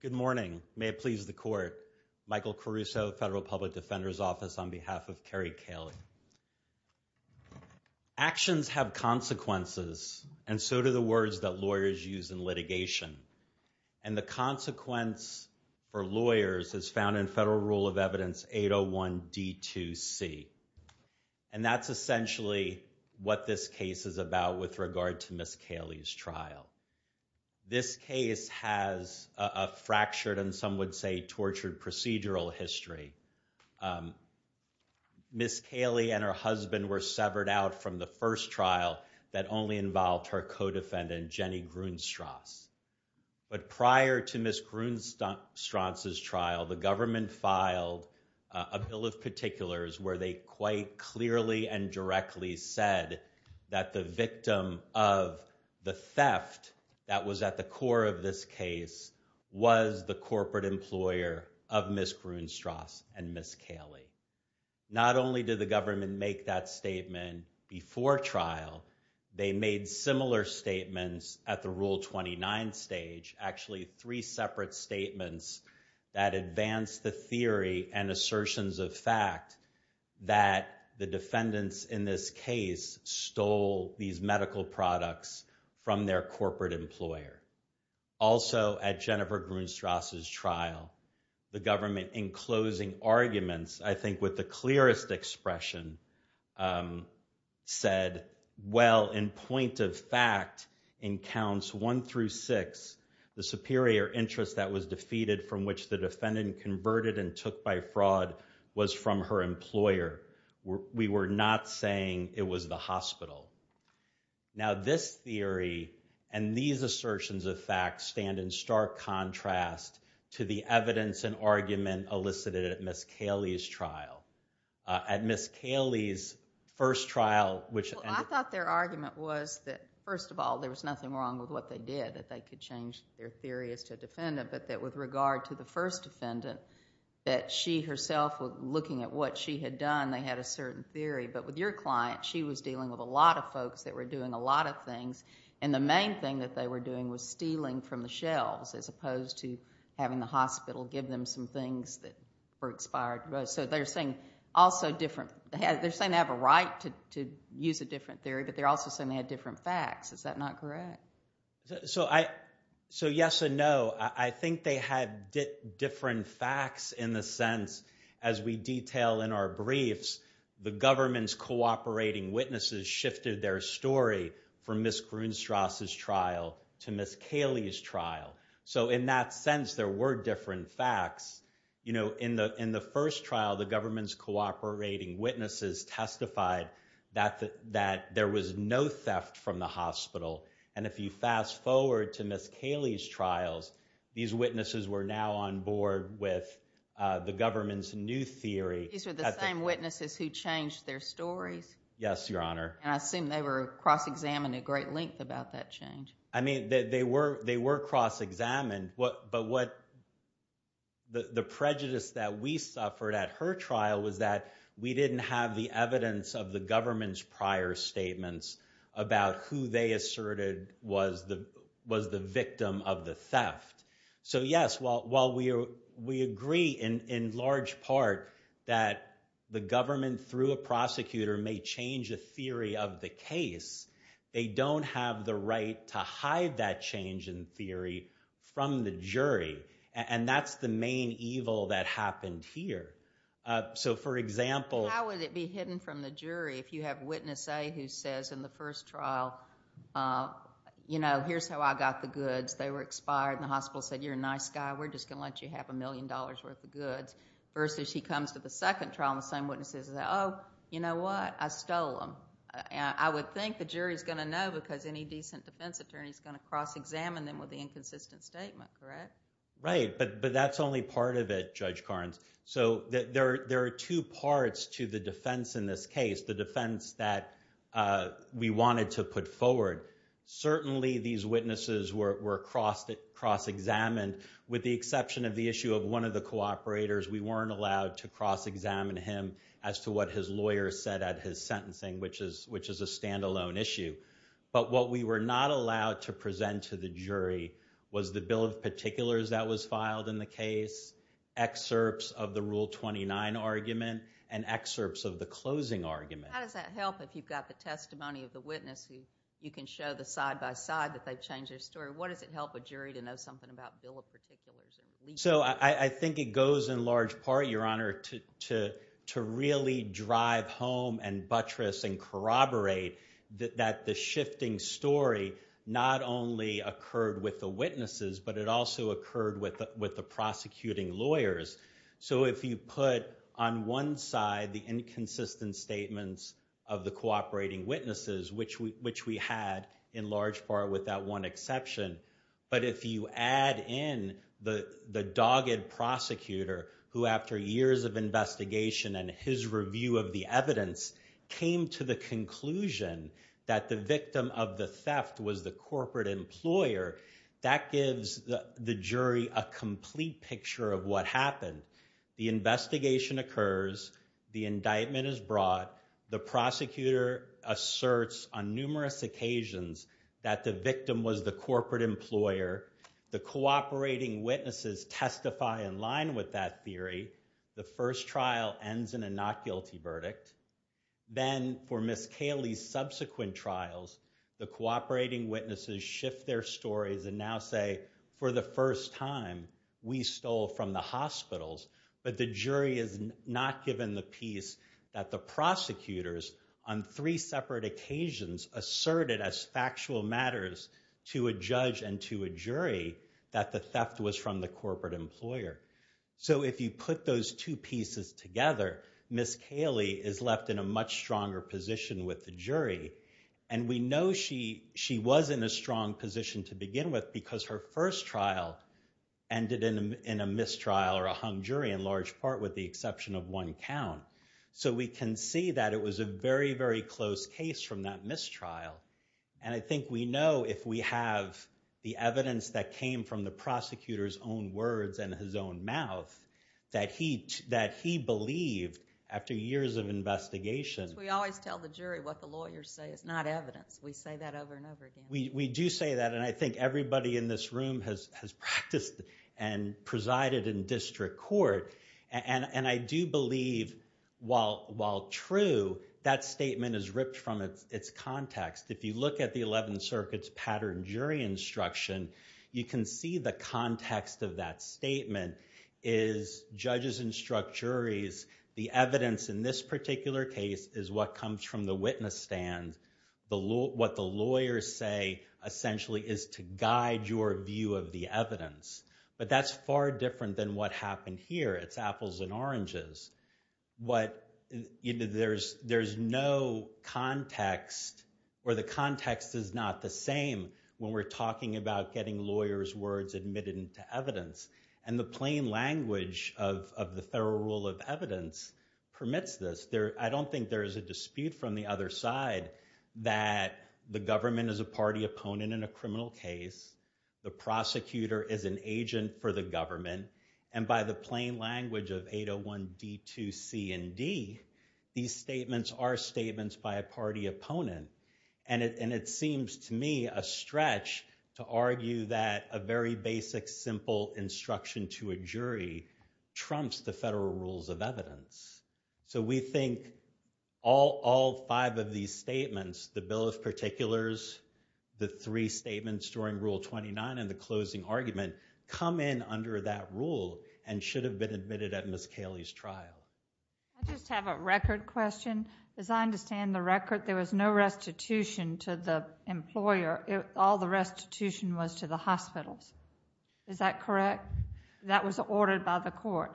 Good morning. May it please the court. Michael Caruso, Federal Public Defender's Office, on behalf of Kerri Kaley. Actions have consequences, and so do the words that lawyers use in litigation. And the consequence for lawyers is found in Federal Rule of Evidence 801D2C. And that's essentially what this case is about with regard to Ms. Kaley's trial. This case has a fractured and some would say tortured procedural history. Ms. Kaley and her husband were severed out from the first trial that only involved her co-defendant, Jenny Grunstrasse. But prior to Ms. Grunstrasse's trial, the government filed a bill of particulars where they quite clearly and directly said that the victim of the theft that was at the core of this case was the corporate employer of Ms. Grunstrasse and Ms. Kaley. Not only did the government make that statement before trial, they made similar statements at the Rule 29 stage, actually three separate statements that advanced the theory and assertions of fact that the defendants in this case stole these medical products from their corporate employer. Also, at Jennifer Grunstrasse's trial, the government, in closing arguments, I think with the clearest expression, said, well, in point of fact, in counts one through six, the superior interest that was defeated from which the defendant converted and took by fraud was from her employer. We were not saying it was the hospital. Now, this theory and these assertions of fact stand in stark contrast to the evidence and argument elicited at Ms. Kaley's trial. At Ms. Kaley's first trial, which... Well, I thought their argument was that, first of all, there was nothing wrong with what they did, that they could change their theory as to a defendant, but that with regard to the first defendant, that she herself, looking at what she had done, they had a certain theory. But with your client, she was dealing with a lot of folks that were doing a lot of things, and the main thing that they were doing was stealing from the shelves as opposed to having the hospital give them some things that were expired. So they're saying also different... They're saying they have a right to use a different theory, but they're also saying they had different facts. Is that not correct? So, yes and no. I think they had different facts in the sense, as we detail in our briefs, the government's cooperating witnesses shifted their story from Ms. Grunstrasse's trial to Ms. Kaley's trial. So in that sense, there were different facts. In the first trial, the government's cooperating witnesses testified that there was no theft from the hospital. And if you fast forward to Ms. Kaley's trials, these witnesses were now on board with the government's new theory. These were the same witnesses who changed their stories? Yes, Your Honor. And I assume they were cross-examined at great length about that change. I mean, they were cross-examined, but the prejudice that we suffered at her trial was that we didn't have the evidence of the government's prior statements about who they asserted was the government through a prosecutor may change a theory of the case. They don't have the right to hide that change in theory from the jury. And that's the main evil that happened here. So, for example... How would it be hidden from the jury if you have witness A who says in the first trial, you know, here's how I got the goods. They were expired and the hospital said, you're a nice guy. We're just going to let you have a million dollars worth of goods. Versus he comes to the second trial and the same witness says, oh, you know what? I stole them. I would think the jury's going to know because any decent defense attorney is going to cross-examine them with the inconsistent statement, correct? Right, but that's only part of it, Judge Carnes. So, there are two parts to the defense in this case, the defense that we wanted to put forward. Certainly, these witnesses were cross-examined with the exception of the issue of one of the cooperators. We weren't allowed to cross-examine him as to what his lawyer said at his sentencing, which is a standalone issue. But what we were not allowed to present to the jury was the bill of particulars that was filed in the case, excerpts of the Rule 29 argument, and excerpts of the closing argument. How does that help if you've got the testimony of the witness who you can show the side-by-side that they've changed their story? What does it help a jury to know something about bill of particulars? So, I think it goes in large part, Your Honor, to really drive home and buttress and corroborate that the shifting story not only occurred with the witnesses, but it also occurred with the prosecuting lawyers. So, if you put on one side the inconsistent statements of the cooperating witnesses, which we had in large part with that one exception, but if you add in the dogged prosecutor who, after years of investigation and his review of the evidence, came to the conclusion that the victim of the theft was the corporate employer, that gives the jury a complete picture of what happened. The investigation occurs, the indictment is brought, the prosecutor asserts on numerous occasions that the victim was the corporate employer, the cooperating witnesses testify in line with that theory, the first trial ends in a not guilty verdict. Then, for Ms. Caley's subsequent trials, the cooperating witnesses shift their stories and now say, for the first time, we stole from the hospitals, but the jury is not given the peace that the prosecutors, on three separate occasions, asserted as factual matters to a judge and to a jury that the theft was from the corporate employer. So, if you put those two pieces together, Ms. Caley is left in a much stronger position with the jury, and we know she was in a strong position to begin with because her first trial ended in a mistrial or a hung jury in large part with the exception of one count. So, we can see that it was a very, very close case from that mistrial, and I think we know if we have the evidence that came from the prosecutor's own words and his own mouth that he believed after years of investigation. We always tell the jury what the lawyers say is not evidence. We say that over and over again. We do say that, and I think everybody in this room has practiced and presided in district court, and I do believe, while true, that statement is ripped from its context. If you look at the 11th Circuit's pattern jury instruction, you can see the context of that statement is judges instruct juries. The evidence in this particular case is what comes from the witness stand. What the lawyers say essentially is to guide your view of the evidence, but that's far different than what happened here. It's apples and oranges. There's no context, or the context is not the same when we're talking about getting lawyers' words admitted into evidence, and the plain language of the federal rule of evidence permits this. I don't think there is a dispute from the other side that the government is a party opponent in a criminal case, the prosecutor is an agent for the government, and by the plain language of 801 D2C and D, these statements are statements by a party opponent, and it seems to me a stretch to argue that a very basic simple instruction to a the bill of particulars, the three statements during Rule 29, and the closing argument come in under that rule and should have been admitted at Ms. Caley's trial. I just have a record question. As I understand the record, there was no restitution to the employer. All the restitution was to the hospitals. Is that correct? That was ordered by the court.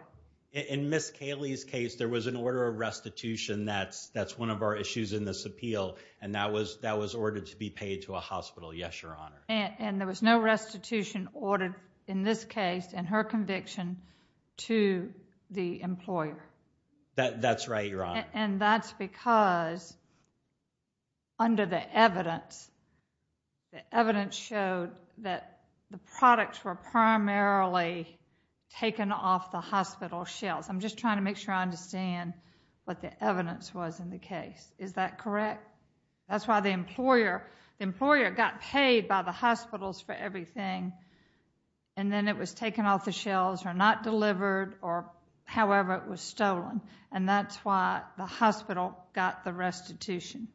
In Ms. Caley's case, there was an order of restitution. That's one of our issues in this case, and that was ordered to be paid to a hospital. Yes, Your Honor. And there was no restitution ordered in this case, in her conviction, to the employer? That's right, Your Honor. And that's because under the evidence, the evidence showed that the products were primarily taken off the hospital shelves. I'm just trying to make sure I understand what the evidence was in the case. Is that correct? That's why the employer, the employer got paid by the hospitals for everything, and then it was taken off the shelves or not delivered or however it was stolen, and that's why the hospital got the restitution.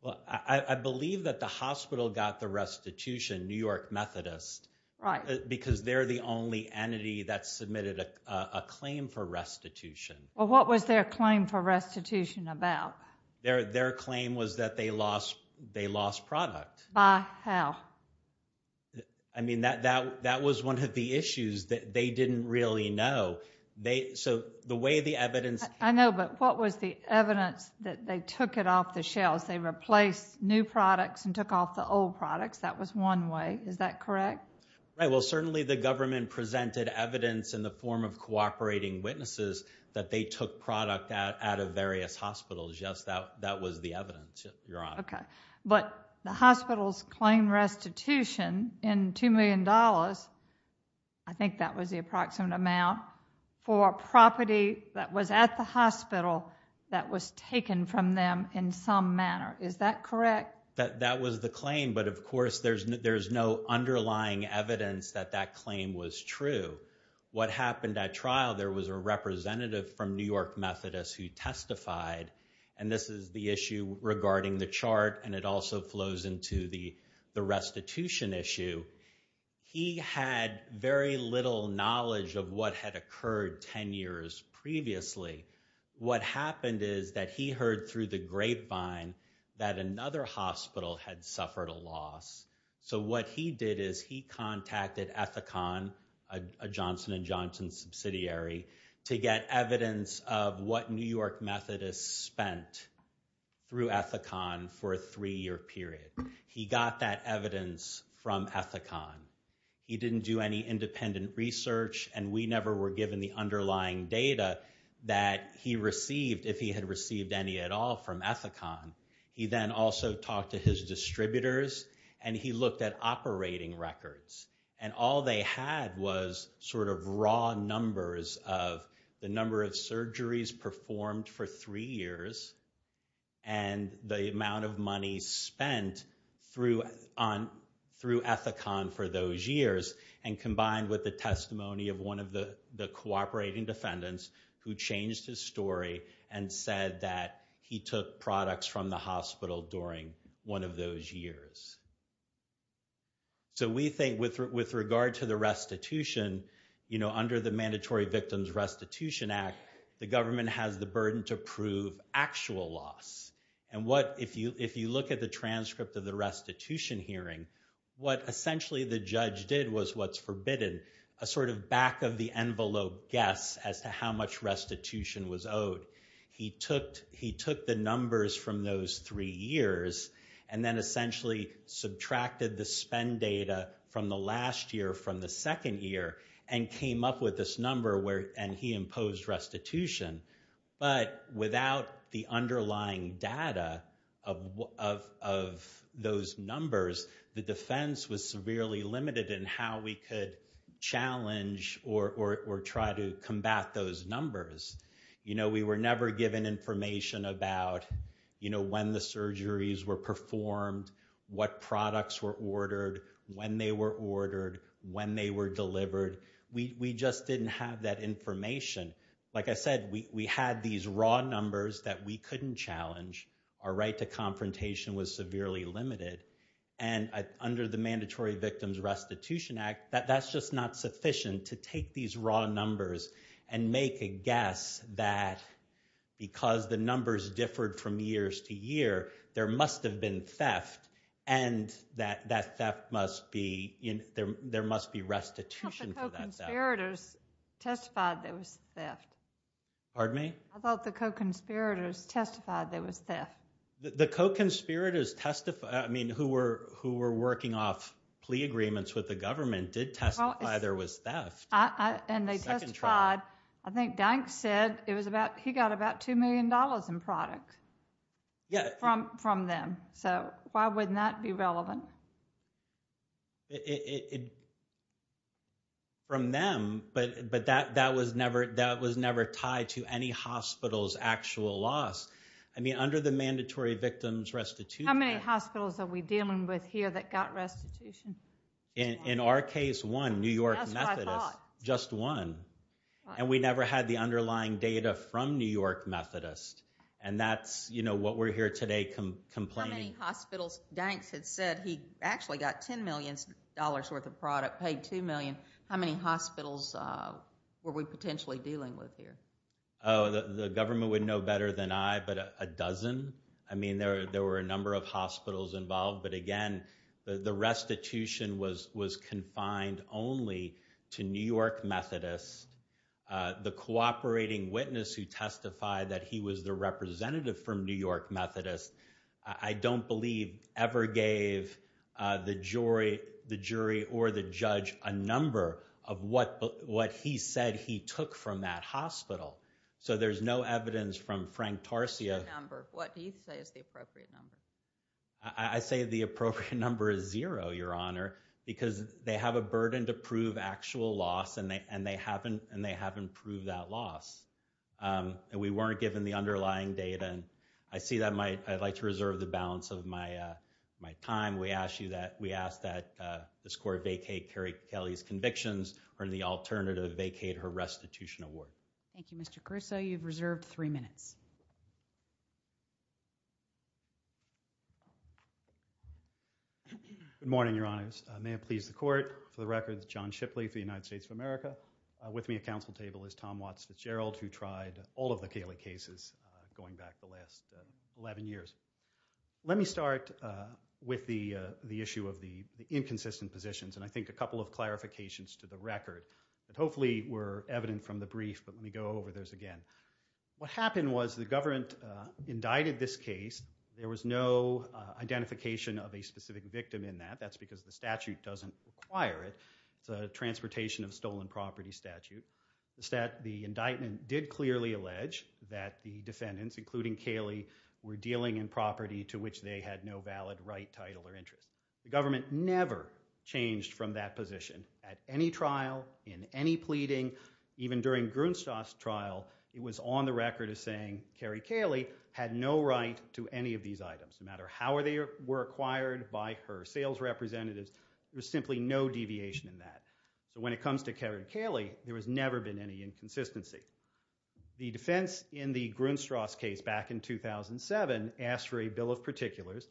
Well, I believe that the hospital got the restitution, New York Methodist. Right. Because they're the only entity that submitted a claim for restitution. Well, what was their claim for restitution about? Their claim was that they lost product. By how? I mean, that was one of the issues that they didn't really know. So the way the evidence... I know, but what was the evidence that they took it off the shelves? They replaced new products and took off the old products. That was one way. Is that correct? Right. Well, certainly the government presented evidence in the form of cooperating witnesses that they took product out of various hospitals. Yes, that was the evidence, Your Honor. Okay. But the hospitals claimed restitution in $2 million, I think that was the approximate amount, for property that was at the hospital that was taken from them in some manner. Is that correct? That was the claim, but of course there's no underlying evidence that that claim was true. What happened at trial, there was a representative from New York Methodist who testified, and this is the issue regarding the chart and it also flows into the restitution issue. He had very little knowledge of what had occurred 10 years previously. What happened is that he heard through the grapevine that another hospital had suffered a loss. So what he did is he contacted Ethicon, a Johnson & Johnson subsidiary, to get evidence of what New York Methodist spent through Ethicon for a three-year period. He got that evidence from Ethicon. He didn't do any independent research and we never were given the underlying data that he received, if he had received any at all from Ethicon. He then also talked to his distributors and he looked at all they had was sort of raw numbers of the number of surgeries performed for three years and the amount of money spent through Ethicon for those years and combined with the testimony of one of the cooperating defendants who changed his story and said that he took products from the restitution. Under the Mandatory Victims Restitution Act, the government has the burden to prove actual loss. If you look at the transcript of the restitution hearing, what essentially the judge did was what's forbidden, a sort of back-of-the-envelope guess as to how much restitution was owed. He took the numbers from those three years and then essentially subtracted the spend data from the last year from the second year and came up with this number where and he imposed restitution. But without the underlying data of those numbers, the defense was severely limited in how we could challenge or try to combat those numbers. You know, we were never given information about when the surgeries were performed, what products were ordered, when they were ordered, when they were delivered. We just didn't have that information. Like I said, we had these raw numbers that we couldn't challenge. Our right to confrontation was severely limited and under the Mandatory Victims Restitution Act, that's just not sufficient to take these raw numbers and make a judgment that because the numbers differed from years to year, there must have been theft and that that theft must be, there must be restitution for that theft. I thought the co-conspirators testified there was theft. Pardon me? I thought the co-conspirators testified there was theft. The co-conspirators testified, I mean who were who were working off plea agreements with the government did testify there was theft. And they testified, I think Dank said it was about, he got about two million dollars in product from them. So why wouldn't that be relevant? From them, but that was never tied to any hospital's actual loss. I mean under the Mandatory Victims Restitution Act. How many hospitals are we dealing with here that got restitution? In our case one, New York Methodist, just one. And we never had the underlying data from New York Methodist. And that's you know what we're here today complaining. How many hospitals, Dank had said he actually got 10 million dollars worth of product, paid two million. How many hospitals were we potentially dealing with here? Oh the government would know better than I, but a dozen. I mean there were a number of hospitals involved. But again the restitution was confined only to New York Methodist. The cooperating witness who testified that he was the representative from New York Methodist, I don't believe ever gave the jury or the judge a number of what he said he took from that hospital. So there's no evidence from Frank Tarsia. What do you say is the appropriate number? I say the appropriate number is zero, Your Honor, because they have a burden to prove actual loss and they haven't proved that loss. And we weren't given the underlying data. And I see that I'd like to reserve the balance of my time. We ask that this court vacate Kerry Kelly's convictions or in the alternative vacate her restitution award. Thank you, Mr. Caruso. You've reserved three minutes. Good morning, Your Honors. May it please the court. For the record, John Shipley for the United States of America. With me at council table is Tom Watts Fitzgerald who tried all of the Kelly cases going back the last 11 years. Let me start with the issue of the inconsistent positions and I think a couple of clarifications to the record that hopefully were evident from the brief, but let me go over those again. What happened was the government indicted this case. There was no identification of a specific victim in that. That's because the statute doesn't require it. It's a transportation of stolen property statute. The indictment did clearly allege that the defendants, including Kelly, were dealing in property to which they had no valid right, title, or interest. The government never changed from that position at any trial, in any pleading, even during Grunstrasse trial, it was on the record as saying Kerry Kelly had no right to any of these items. No matter how they were acquired by her sales representatives, there was simply no deviation in that. So when it comes to Kerry Kelly, there has never been any inconsistency. The defense in the Grunstrasse case back in 2007 asked for a bill of particulars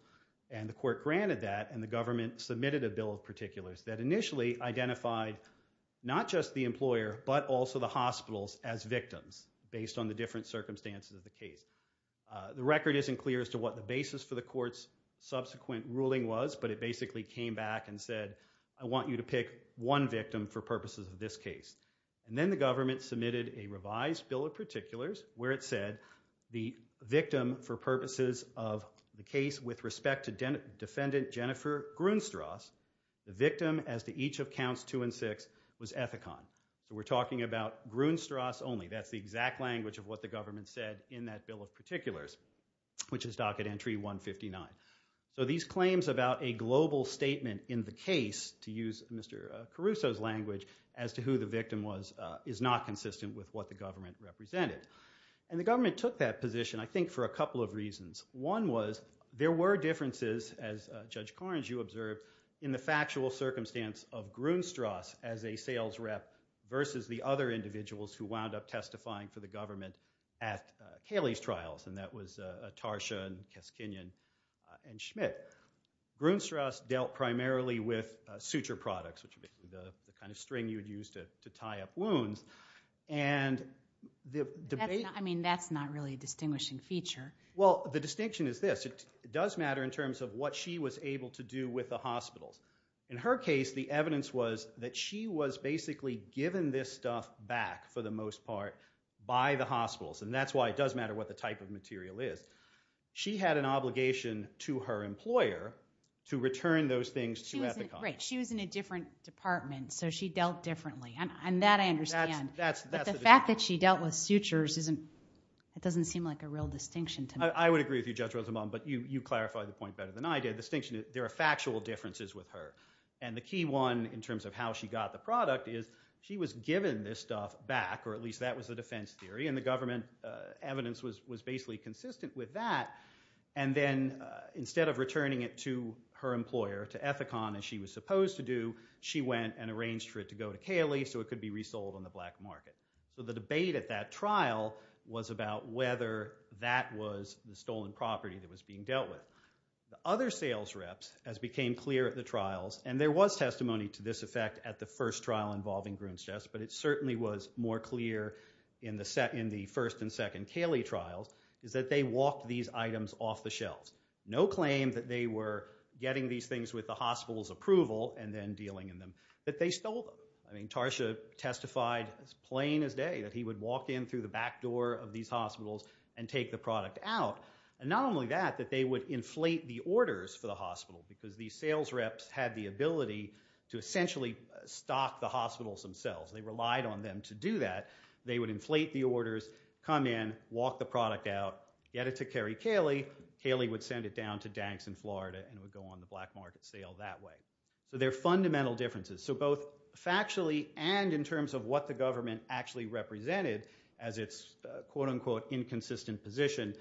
and the court granted that and the government submitted a bill of particulars that initially identified not just the employer, but also the hospitals as victims based on the different circumstances of the case. The record isn't clear as to what the basis for the court's subsequent ruling was, but it basically came back and said, I want you to pick one victim for purposes of this case. And then the government submitted a revised bill of particulars where it said the victim for purposes of the case with respect to defendant Jennifer Grunstrasse, the victim as to each of counts two and six was Ethicon. So we're talking about Grunstrasse only. That's the exact language of what the government said in that bill of particulars, which is docket entry 159. So these claims about a global statement in the case, to use Mr. Caruso's language, as to who the victim was is not consistent with what the government represented. And the government took that as Judge Korins, you observed, in the factual circumstance of Grunstrasse as a sales rep versus the other individuals who wound up testifying for the government at Caley's trials, and that was Tarsha and Kaskinian and Schmidt. Grunstrasse dealt primarily with suture products, which are basically the kind of string you'd use to tie up wounds. And the debate- I mean, that's not really a distinguishing feature. Well, the distinction is this. It does matter in terms of what she was able to do with the hospitals. In her case, the evidence was that she was basically given this stuff back, for the most part, by the hospitals. And that's why it does matter what the type of material is. She had an obligation to her employer to return those things to Ethicon. Right. She was in a different department, so she dealt differently. And that I understand. That's the distinction. The fact that she dealt with sutures doesn't seem like a real distinction to me. I would agree with you, Judge Rosenbaum, but you clarified the point better than I did. The distinction is there are factual differences with her. And the key one, in terms of how she got the product, is she was given this stuff back, or at least that was the defense theory, and the government evidence was basically consistent with that. And then instead of returning it to her employer, to Ethicon, as she was supposed to do, she went and arranged for it to go to Cayley, so it could be resold on the black market. So the debate at that trial was about whether that was the stolen property that was being dealt with. The other sales reps, as became clear at the trials, and there was testimony to this effect at the first trial involving Grunstest, but it certainly was more clear in the first and second Cayley trials, is that they walked these items off the shelves. No claim that they were getting these things with the hospital's approval and then dealing in them, that they stole them. I mean, Tarsha testified as plain as day that he would walk in through the back door of these hospitals and take the product out. And not only that, that they would inflate the orders for the hospital, because these sales reps had the ability to essentially stock the hospitals themselves. They relied on them to do that. They would inflate the orders, come in, walk the product out, get it to Kerry Cayley, Cayley would send it down to Danx in Florida and would go on the black market sale that way. So there are fundamental differences. So both factually and in terms of what the government actually represented as its, quote unquote, inconsistent position,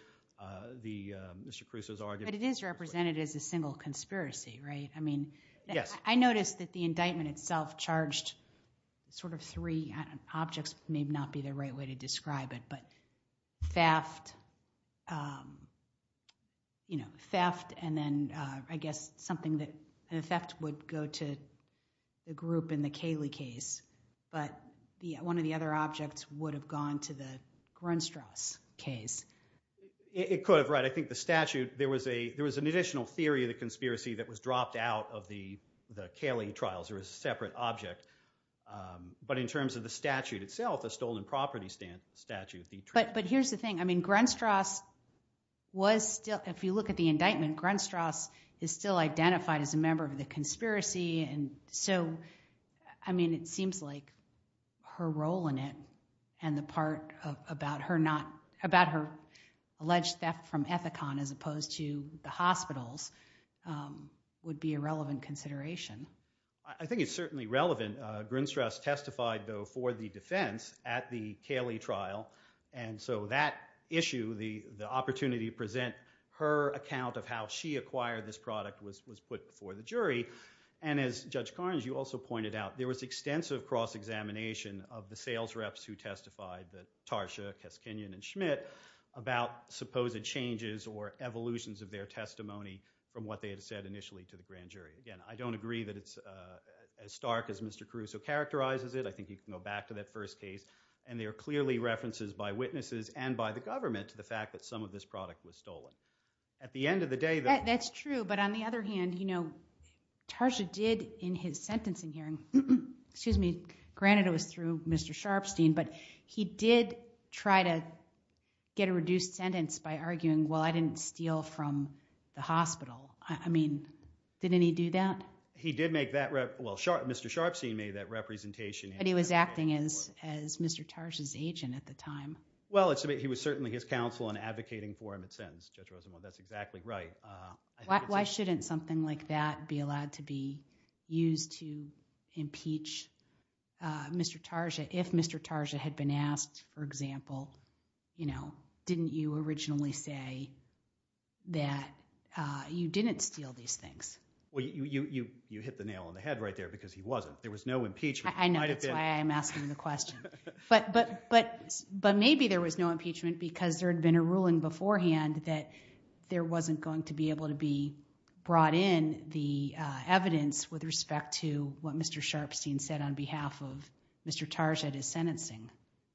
the, Mr. Caruso's argument. But it is represented as a single conspiracy, right? I mean, I noticed that the indictment itself charged sort of three, objects may not be the right way to describe it, but theft and then, I guess, something that in effect would go to the group in the Cayley case. But one of the other objects would have gone to the Grunstrasse case. It could have, right? I think the statute, there was an additional theory of the conspiracy that was dropped out of the Cayley trials. There was a separate object. But in terms of the statute itself, a stolen property statute. But here's the thing. I mean, Grunstrasse was, if you look at the indictment, Grunstrasse is still identified as a member of the conspiracy. And so, I mean, it seems like her role in it and the part about her alleged theft from Ethicon as opposed to the hospitals would be a relevant consideration. I think it's certainly relevant. Grunstrasse testified, though, for the defense at the Cayley trial. And so that issue, the opportunity to present her account of how she acquired this product was put before the jury. And as Judge Carnes, you also pointed out, there was extensive cross-examination of the sales reps who testified, the Tarsha, Kaskinian, and Schmidt, about supposed changes or evolutions of their testimony from what they had said initially to the grand jury. Again, I don't agree that it's as stark as Mr. Caruso characterizes it. I think you can go back to that first case. And there are clearly references by witnesses and by the government to the fact that some of this product was stolen. At the end of the day, though... That's true. But on the other hand, you know, Tarsha did in his sentencing hearing, excuse me, granted it was through Mr. Sharpstein, but he did try to get a reduced sentence by arguing, well, I didn't steal from the hospital. I mean, didn't he do that? He did make that, well, Mr. Sharpstein made that representation. But he was acting as Mr. Tarsha's agent at the time. Well, he was certainly his counsel and advocating for him at sentence. Judge Rosenwald, that's exactly right. Why shouldn't something like that be allowed to be used to impeach Mr. Tarsha if Mr. Tarsha had been asked, for example, you know, didn't you originally say that you didn't steal these things? Well, you hit the nail on the head right there because he wasn't. There was no impeachment. I know that's why I'm asking the question. But maybe there was no impeachment because there had been a ruling beforehand that there wasn't going to be able to be brought in the evidence with respect to what Mr. Sharpstein said on behalf of Mr. Tarsha at his sentencing.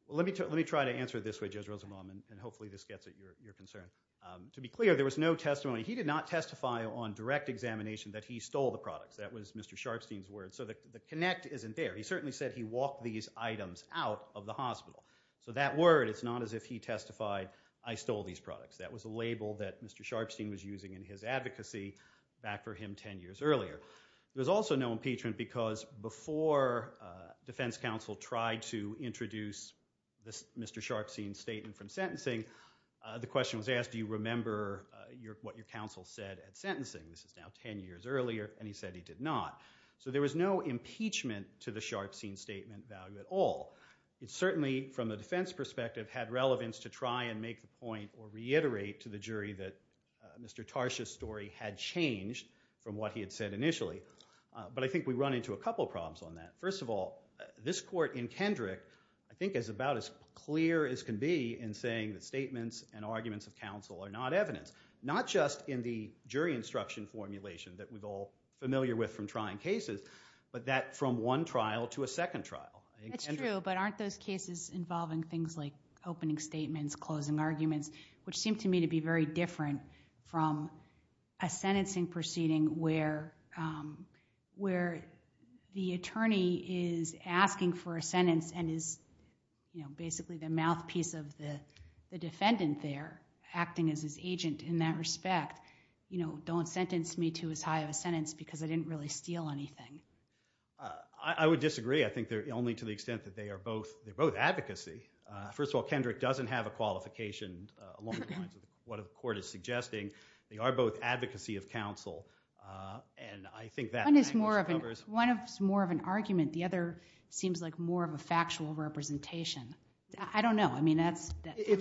Well, let me try to answer this way, and hopefully this gets at your concern. To be clear, there was no testimony. He did not testify on direct examination that he stole the products. That was Mr. Sharpstein's words. So the connect isn't there. He certainly said he walked these items out of the hospital. So that word, it's not as if he testified, I stole these products. That was a label that Mr. Sharpstein was using in his advocacy back for him 10 years earlier. There was also no impeachment because before defense tried to introduce Mr. Sharpstein's statement from sentencing, the question was asked, do you remember what your counsel said at sentencing? This is now 10 years earlier, and he said he did not. So there was no impeachment to the Sharpstein statement value at all. It certainly, from a defense perspective, had relevance to try and make the point or reiterate to the jury that Mr. Tarsha's story had changed from what he had said initially. But I think we in Kendrick, I think it's about as clear as can be in saying that statements and arguments of counsel are not evidence. Not just in the jury instruction formulation that we're all familiar with from trying cases, but that from one trial to a second trial. It's true, but aren't those cases involving things like opening statements, closing arguments, which seem to me to be very and is basically the mouthpiece of the defendant there acting as his agent in that respect, don't sentence me to as high of a sentence because I didn't really steal anything. I would disagree. I think only to the extent that they are both advocacy. First of all, Kendrick doesn't have a qualification along the lines of what the court is suggesting. They are both advocacy of counsel. And I think that one is more of an argument. The other seems like more of a factual representation. I don't know. I mean, I'm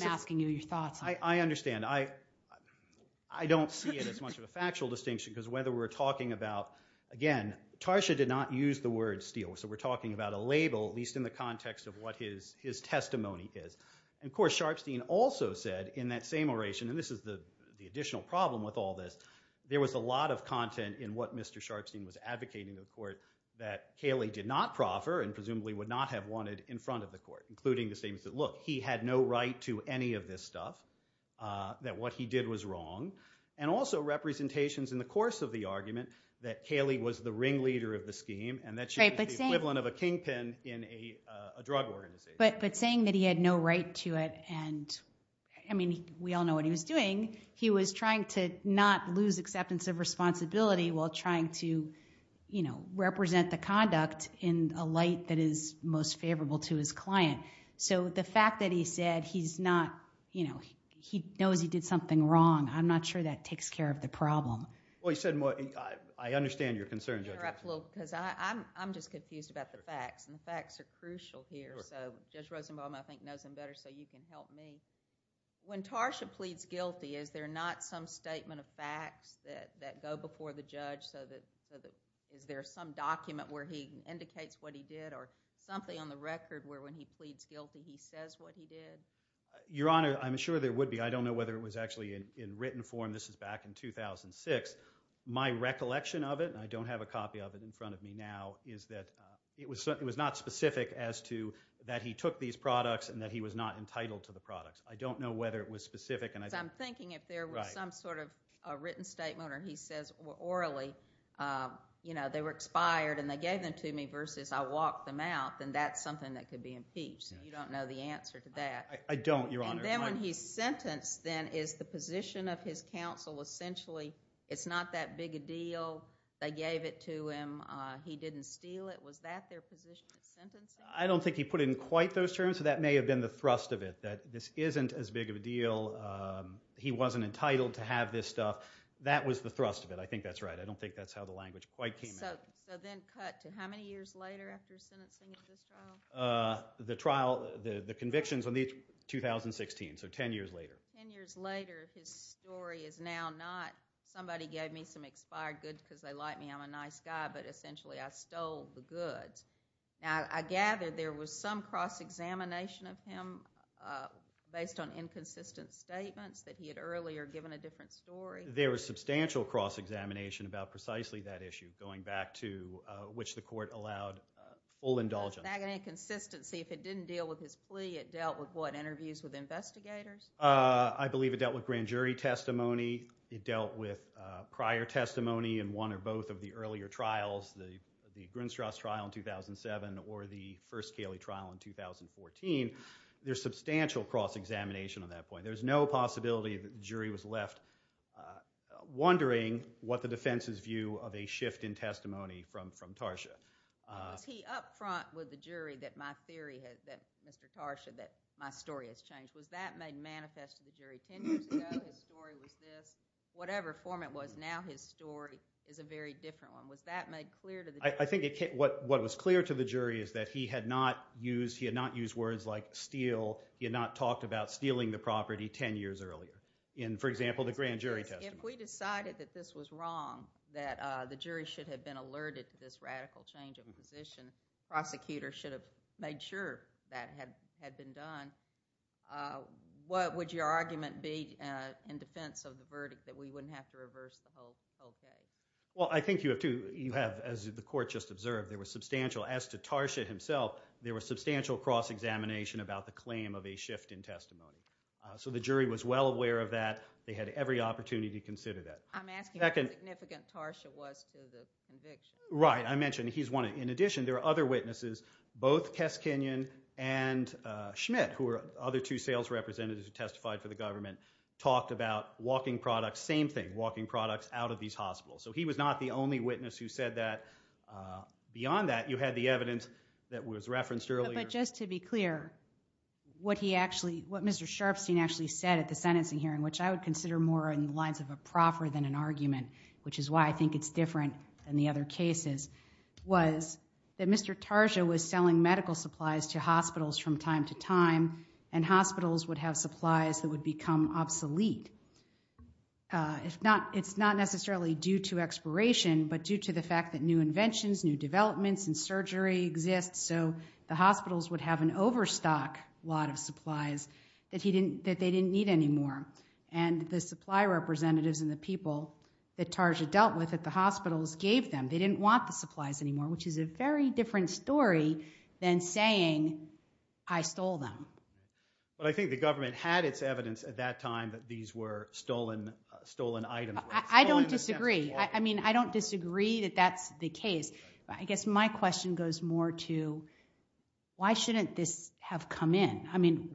asking you your thoughts. I understand. I don't see it as much of a factual distinction because whether we're talking about, again, Tarsha did not use the word steal. So we're talking about a label, at least in the context of what his testimony is. And of course, Sharpstein also said in that same oration, and this is the additional problem with all this, there was a lot of content in what that Cayley did not proffer and presumably would not have wanted in front of the court, including the statements that, look, he had no right to any of this stuff, that what he did was wrong, and also representations in the course of the argument that Cayley was the ringleader of the scheme and that she was the equivalent of a kingpin in a drug organization. But saying that he had no right to it and, I mean, we all know what he was doing. He was trying to not lose acceptance of responsibility while trying to represent the conduct in a light that is most favorable to his client. So the fact that he said he's not... he knows he did something wrong, I'm not sure that takes care of the problem. Well, he said... I understand your concerns. Can I interrupt a little? Because I'm just confused about the facts, and the facts are crucial here. So Judge Rosenbaum, I think, knows them better, so you can help me. When Tarsha pleads guilty, is there not some statement of facts that go before the judge so that... is there some document where he indicates what he did or something on the record where when he pleads guilty, he says what he did? Your Honor, I'm sure there would be. I don't know whether it was actually in written form. This is back in 2006. My recollection of it, and I don't have a copy of it in front of me now, is that it was not specific as to that he took these products and that he was not entitled to the products. I don't know whether it was specific, and I... Because I'm thinking if there was some sort of a written statement or he says orally, you know, they were expired and they gave them to me versus I walked them out, then that's something that could be impeached. You don't know the answer to that. I don't, Your Honor. And then when he's sentenced, then, is the position of his counsel essentially, it's not that big a deal, they gave it to him, he didn't steal it? Was that their position at sentencing? I don't think he put in quite those terms, so that may have been the thrust of it, this isn't as big of a deal, he wasn't entitled to have this stuff. That was the thrust of it, I think that's right. I don't think that's how the language quite came out. So then cut to how many years later after sentencing of this trial? The trial, the convictions, in 2016, so ten years later. Ten years later, his story is now not somebody gave me some expired goods because they like me, I'm a nice guy, but essentially I stole the goods. Now, I gather there was some cross-examination of him based on inconsistent statements that he had earlier given a different story? There was substantial cross-examination about precisely that issue, going back to which the court allowed full indulgence. Was that an inconsistency if it didn't deal with his plea, it dealt with what, interviews with investigators? I believe it dealt with grand jury testimony, it dealt with prior testimony in one or both of the earlier trials, the Grinstrauss trial in 2007 or the first Cayley trial in 2014. There's substantial cross-examination on that point. There's no possibility that the jury was left wondering what the defense's view of a shift in testimony from Tarsha. Was he up front with the jury that my theory, Mr. Tarsha, that my story has changed? Was that made manifest to the jury ten years ago, his story was this? Whatever form it was, now his story is a very different one. Was that made clear to the jury? I think what was clear to the jury is that he had not used, he had not used words like steal, he had not talked about stealing the property ten years earlier. In, for example, the grand jury testimony. If we decided that this was wrong, that the jury should have been alerted to this radical change of position, prosecutors should have made sure that had been done, uh, what would your argument be in defense of the verdict that we wouldn't have to reverse the whole case? Well, I think you have to, you have, as the court just observed, there was substantial, as to Tarsha himself, there was substantial cross-examination about the claim of a shift in testimony. So the jury was well aware of that. They had every opportunity to consider that. I'm asking how significant Tarsha was to the conviction. Right. I mentioned he's one. In addition, there are other witnesses, both Kes Kenyon and Schmidt, who are other two sales representatives who testified for the government, talked about walking products, same thing, walking products out of these hospitals. So he was not the only witness who said that. Beyond that, you had the evidence that was referenced earlier. But just to be clear, what he actually, what Mr. Sharfstein actually said at the sentencing hearing, which I would consider more in the lines of a proffer than an argument, which is why I think it's different than the other cases, was that Mr. Tarsha was selling medical supplies to hospitals from time to time. And hospitals would have supplies that would become obsolete. It's not necessarily due to expiration, but due to the fact that new inventions, new developments in surgery exist. So the hospitals would have an overstock lot of supplies that they didn't need anymore. And the supply representatives and the people that Tarsha dealt with at the hospitals gave them, they didn't want the supplies anymore, which is a very different story than saying, I stole them. But I think the government had its evidence at that time that these were stolen items. I don't disagree. I mean, I don't disagree that that's the case. I guess my question goes more to, why shouldn't this have come in? I mean,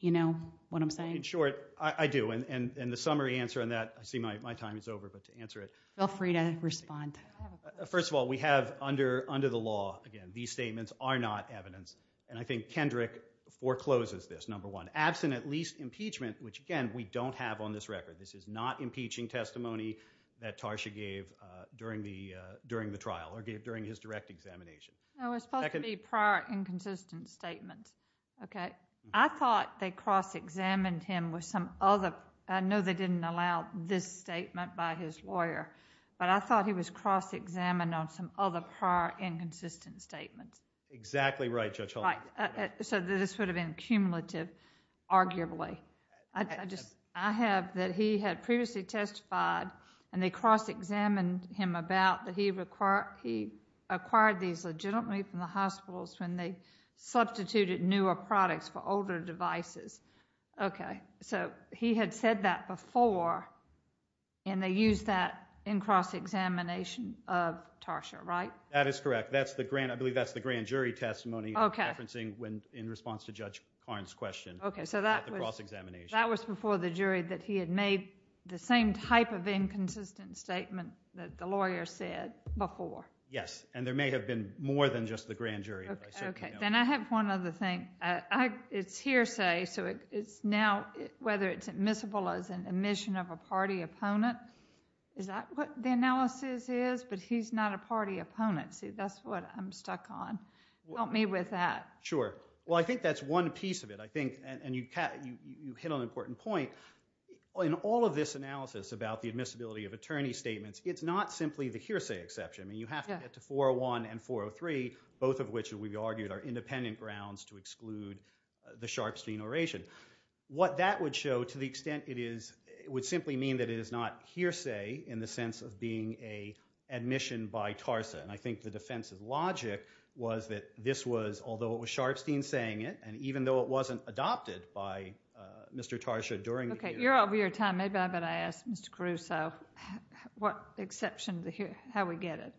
you know what I'm saying? In short, I do. And the summary answer on that, I see my time is over. But to answer it. Feel free to respond. First of all, we have under the law, again, these statements are not evidence. And I think Kendrick forecloses this, number one. Absent at least impeachment, which again, we don't have on this record. This is not impeaching testimony that Tarsha gave during the trial or during his direct examination. No, it's supposed to be prior inconsistent statement. OK. I thought they cross-examined him with some other. I know they didn't allow this statement by his lawyer. But I thought he was cross-examined on some other prior inconsistent statements. Exactly right, Judge Hall. Right. So this would have been cumulative, arguably. I have that he had previously testified and they cross-examined him about that he acquired these legitimately from the hospitals when they substituted newer products for older devices. OK. So he had said that before and they used that in cross-examination of Tarsha, right? That is correct. That's the grand. I believe that's the grand jury testimony referencing when in response to Judge Karn's question. OK. So that was cross-examination. That was before the jury that he had made the same type of inconsistent statement that the lawyer said before. Yes. And there may have been more than just the grand jury. OK. Then I have one other thing. It's hearsay. So it's now whether it's admissible as an admission of a party opponent. Is that what the analysis is? But he's not a party opponent. See, that's what I'm stuck on. Help me with that. Sure. Well, I think that's one piece of it. I think, and you hit on an important point, in all of this analysis about the admissibility of attorney statements, it's not simply the hearsay exception. You have to get to 401 and 403, both of which, we've argued, are independent grounds to exclude the Sharpstein oration. What that would show, to the extent it is, it would simply mean that it is not hearsay in the sense of being an admission by Tarsa. And I think the defense's logic was that this was, although it was Sharpstein saying it, and even though it wasn't adopted by Mr. Tarsa during the hearing. OK. You're over your time. Maybe I better ask Mr. Caruso what exception to hear, how we get it.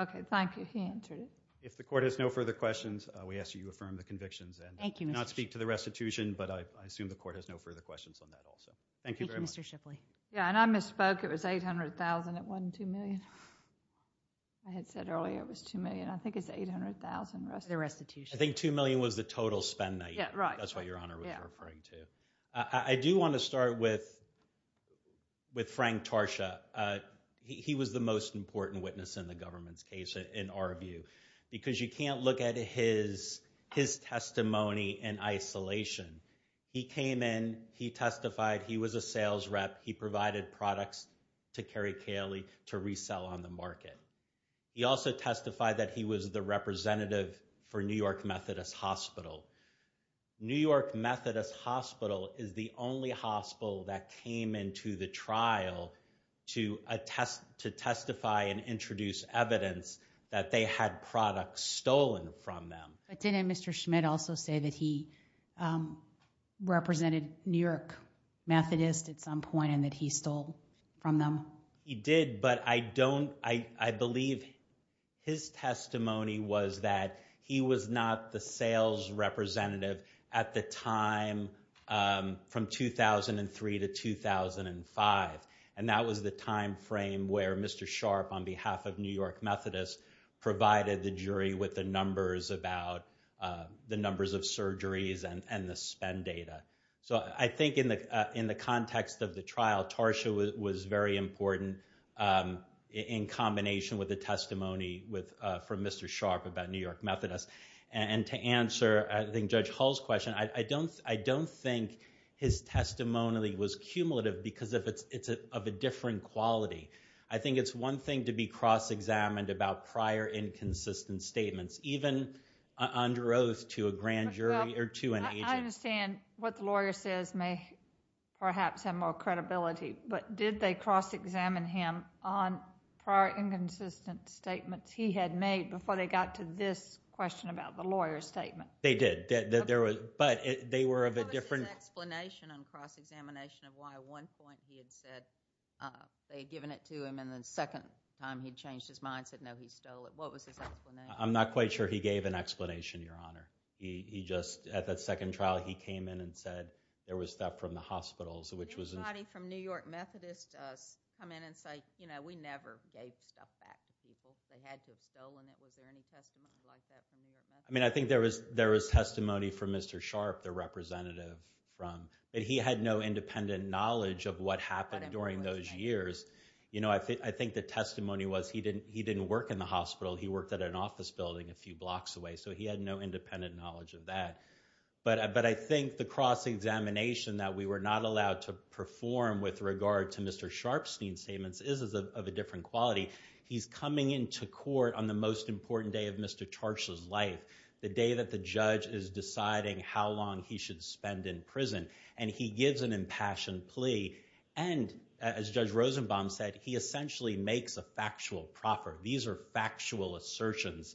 OK. Thank you. He answered it. If the court has no further questions, we ask that you affirm the convictions and not speak to the restitution, but I assume the court has no further questions on that also. Thank you very much. Thank you, Mr. Shipley. Yeah, and I misspoke. It was $800,000. It wasn't $2 million. I had said earlier it was $2 million. I think it's $800,000, the restitution. I think $2 million was the total spend night. Yeah, right. That's what Your Honor was referring to. I do want to start with Frank Tarsa. He was the most important witness in the government's case, in our view, because you can't look at his testimony in isolation. He came in. He testified. He was a sales rep. He provided products to Kerry Caley to resell on the market. He also testified that he was the representative for New York Methodist Hospital. New York Methodist Hospital is the only hospital that came into the trial to testify and introduce evidence that they had products stolen from them. But didn't Mr. Schmidt also say that he represented New York Methodist at some point and that he stole from them? He did, but I don't—I believe his testimony was that he was not the sales representative at the time from 2003 to 2005. And that was the time frame where Mr. Sharp, on behalf of New York Methodist, provided the jury with the numbers about—the numbers of surgeries and the spend data. So I think in the context of the trial, Tarsa was very important in combination with the testimony from Mr. Sharp about New York Methodist. And to answer, I think, Judge Hall's question, I don't think his testimony was cumulative because it's of a differing quality. I think it's one thing to be cross-examined about prior inconsistent statements, even under oath to a grand jury or to an agent. Well, I understand what the lawyer says may perhaps have more credibility. But did they cross-examine him on prior inconsistent statements he had made before they got to this question about the lawyer's statement? They did. But they were of a different— What was his explanation on cross-examination of why at one point he had said they had given it to him and the second time he changed his mind, said, no, he stole it? What was his explanation? I'm not quite sure he gave an explanation, Your Honor. At that second trial, he came in and said there was stuff from the hospitals, which was— Did anybody from New York Methodist come in and say, you know, we never gave stuff back to people. They had to have stolen it. Was there any testimony like that from New York Methodist? I mean, I think there was testimony from Mr. Sharp, the representative from—but he had no independent knowledge of what happened during those years. You know, I think the testimony was he didn't work in the hospital. He worked at an office building a few blocks away. So he had no independent knowledge of that. But I think the cross-examination that we were not allowed to perform with regard to Mr. Sharpstein's statements is of a different quality. He's coming into court on the most important day of Mr. Charch's life, the day that the judge is deciding how long he should spend in prison. And he gives an impassioned plea. And as Judge Rosenbaum said, he essentially makes a factual proffer. These are factual assertions.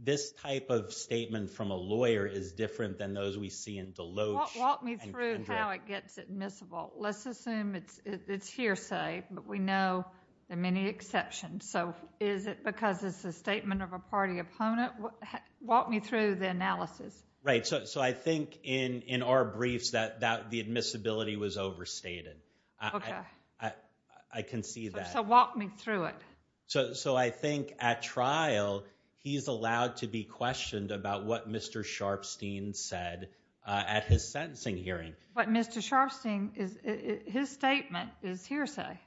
This type of statement from a lawyer is different than those we see in Deloach and Kendrick. Walk me through how it gets admissible. Let's assume it's hearsay. But we know there are many exceptions. So is it because it's a statement of a party opponent? Walk me through the analysis. Right. So I think in our briefs that the admissibility was overstated. OK. I can see that. So walk me through it. So I think at trial, he's allowed to be questioned about what Mr. Sharpstein said at his sentencing hearing. But Mr. Sharpstein, his statement is hearsay.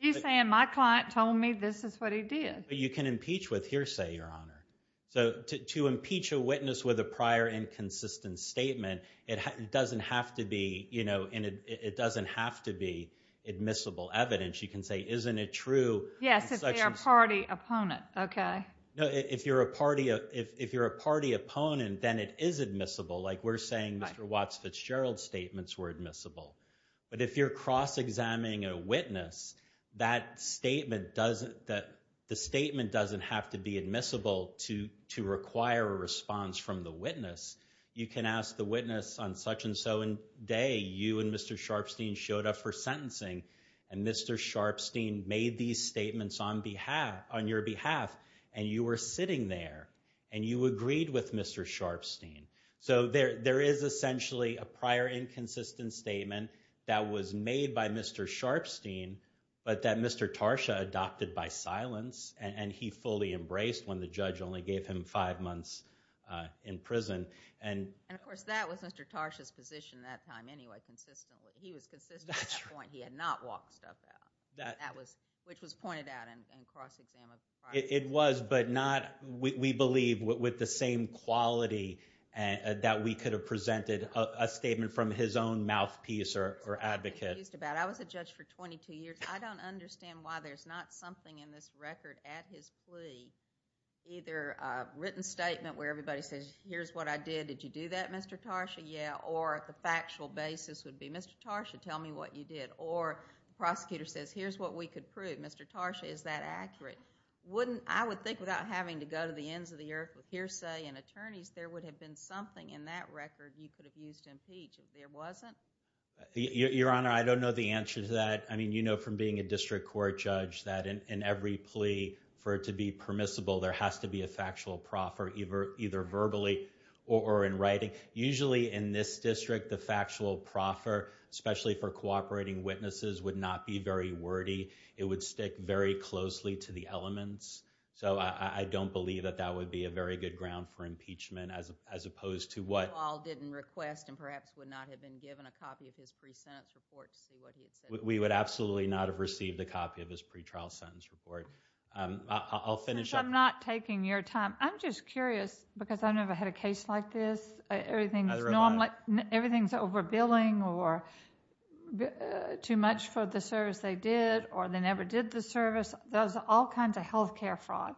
He's saying, my client told me this is what he did. But you can impeach with hearsay, Your Honor. So to impeach a witness with a prior inconsistent statement, it doesn't have to be, you know, and it doesn't have to be admissible evidence. You can say, isn't it true? Yes, if they're a party opponent. OK. No, if you're a party opponent, then it is admissible. Like we're saying Mr. Watts Fitzgerald's statements were admissible. But if you're cross-examining a witness, that statement doesn't have to be admissible to require a response from the witness. You can ask the witness on such and so day, you and Mr. Sharpstein showed up for sentencing. And Mr. Sharpstein made these statements on your behalf. And you were sitting there. And you agreed with Mr. Sharpstein. So there is essentially a prior inconsistent statement that was made by Mr. Sharpstein, but that Mr. Tarsha adopted by silence. And he fully embraced when the judge only gave him five months in prison. And of course, that was Mr. Tarsha's position that time anyway, consistently. He was consistent at that point. He had not walked stuff out, which was pointed out in cross-examination. It was, but not, we believe, with the same quality that we could have presented a statement from his own mouthpiece or advocate. I was a judge for 22 years. I don't understand why there's not something in this record at his plea, either a written statement where everybody says, here's what I did. Did you do that, Mr. Tarsha? Yeah. Or the factual basis would be, Mr. Tarsha, tell me what you did. Or the prosecutor says, here's what we could prove. Mr. Tarsha, is that accurate? I would think without having to go to the ends of the earth with hearsay and attorneys, there would have been something in that record you could have used to impeach if there wasn't. Your Honor, I don't know the answer to that. I mean, you know from being a district court judge that in every plea for it to be permissible, there has to be a factual proffer, either verbally or in writing. Usually in this district, the factual proffer, especially for cooperating witnesses, would not be very wordy. It would stick very closely to the elements. So, I don't believe that that would be a very good ground for impeachment as opposed to what... You all didn't request and perhaps would not have been given a copy of his pre-sentence report to see what he had said. We would absolutely not have received a copy of his pre-trial sentence report. I'll finish up... Since I'm not taking your time, I'm just curious because I've never had a case like this. Everything is normally... Neither have I. Or too much for the service they did or they never did the service. Those are all kinds of health care fraud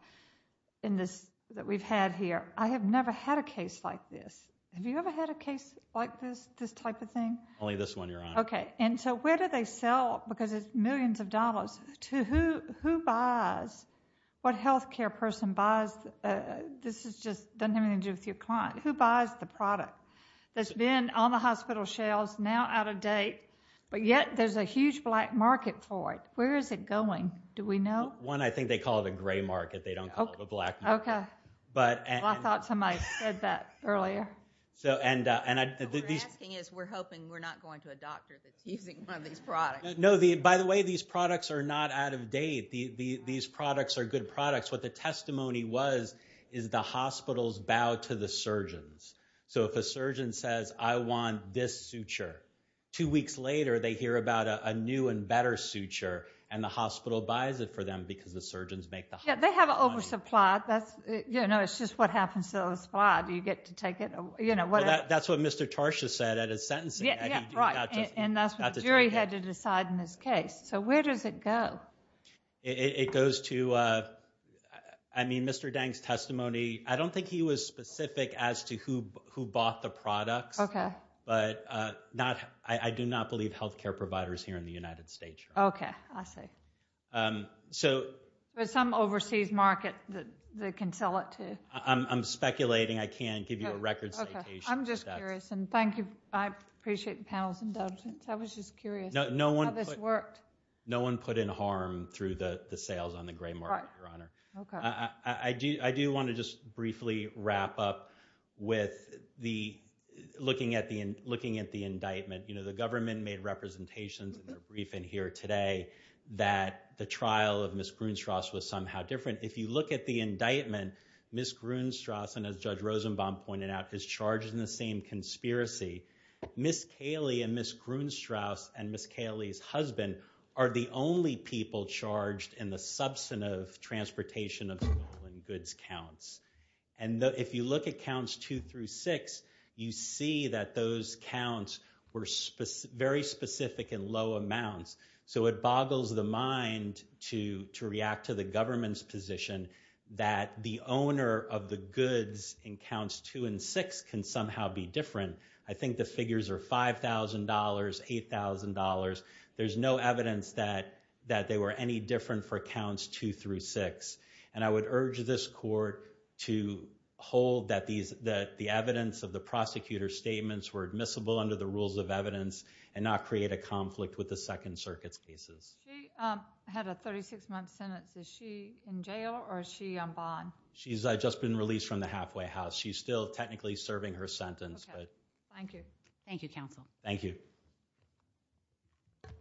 that we've had here. I have never had a case like this. Have you ever had a case like this, this type of thing? Only this one, Your Honor. Okay. And so, where do they sell, because it's millions of dollars, to who buys, what health care person buys? This is just... doesn't have anything to do with your client. Who buys the product? That's been on the hospital shelves, now out of date, but yet there's a huge black market for it. Where is it going? Do we know? One, I think they call it a gray market. They don't call it a black market. Okay. But... Well, I thought somebody said that earlier. So, and I... What we're asking is we're hoping we're not going to a doctor that's using one of these products. No. By the way, these products are not out of date. These products are good products. What the testimony was is the hospitals bow to the surgeons. So, if a surgeon says, I want this suture, two weeks later they hear about a new and better suture, and the hospital buys it for them because the surgeons make the... Yeah, they have an oversupply. That's, you know, it's just what happens to the supply. Do you get to take it, you know, whatever. That's what Mr. Tarsha said at his sentencing. Yeah, yeah, right. And that's what the jury had to decide in this case. So, where does it go? It goes to, I mean, Mr. Dang's testimony, I don't think he was specific as to who bought the products. Okay. But not, I do not believe healthcare providers here in the United States. Okay, I see. So... There's some overseas market that they can sell it to. I'm speculating. I can't give you a record citation. I'm just curious, and thank you. I appreciate the panel's indulgence. I was just curious how this worked. No one put in harm through the sales on the gray market, Your Honor. Right, okay. I do want to just briefly wrap up with looking at the indictment. You know, the government made representations in their briefing here today that the trial of Ms. Grunstrauss was somehow different. If you look at the indictment, Ms. Grunstrauss, and as Judge Rosenbaum pointed out, is charged in the same conspiracy. Ms. Kaley and Ms. Grunstrauss and Ms. Kaley's husband are the only people charged in the substantive transportation of stolen goods counts. And if you look at counts two through six, you see that those counts were very specific in low amounts. So it boggles the mind to react to the government's position that the owner of the goods in counts two and six can somehow be different. I think the figures are $5,000, $8,000. There's no evidence that they were any different for counts two through six. And I would urge this court to hold that the evidence of the prosecutor's statements were admissible under the rules of evidence and not create a conflict with the Second Circuit's cases. She had a 36-month sentence. Is she in jail or is she on bond? She's just been released from the halfway house. She's still technically serving her sentence. Okay, thank you. Thank you, counsel. Thank you. Thank you.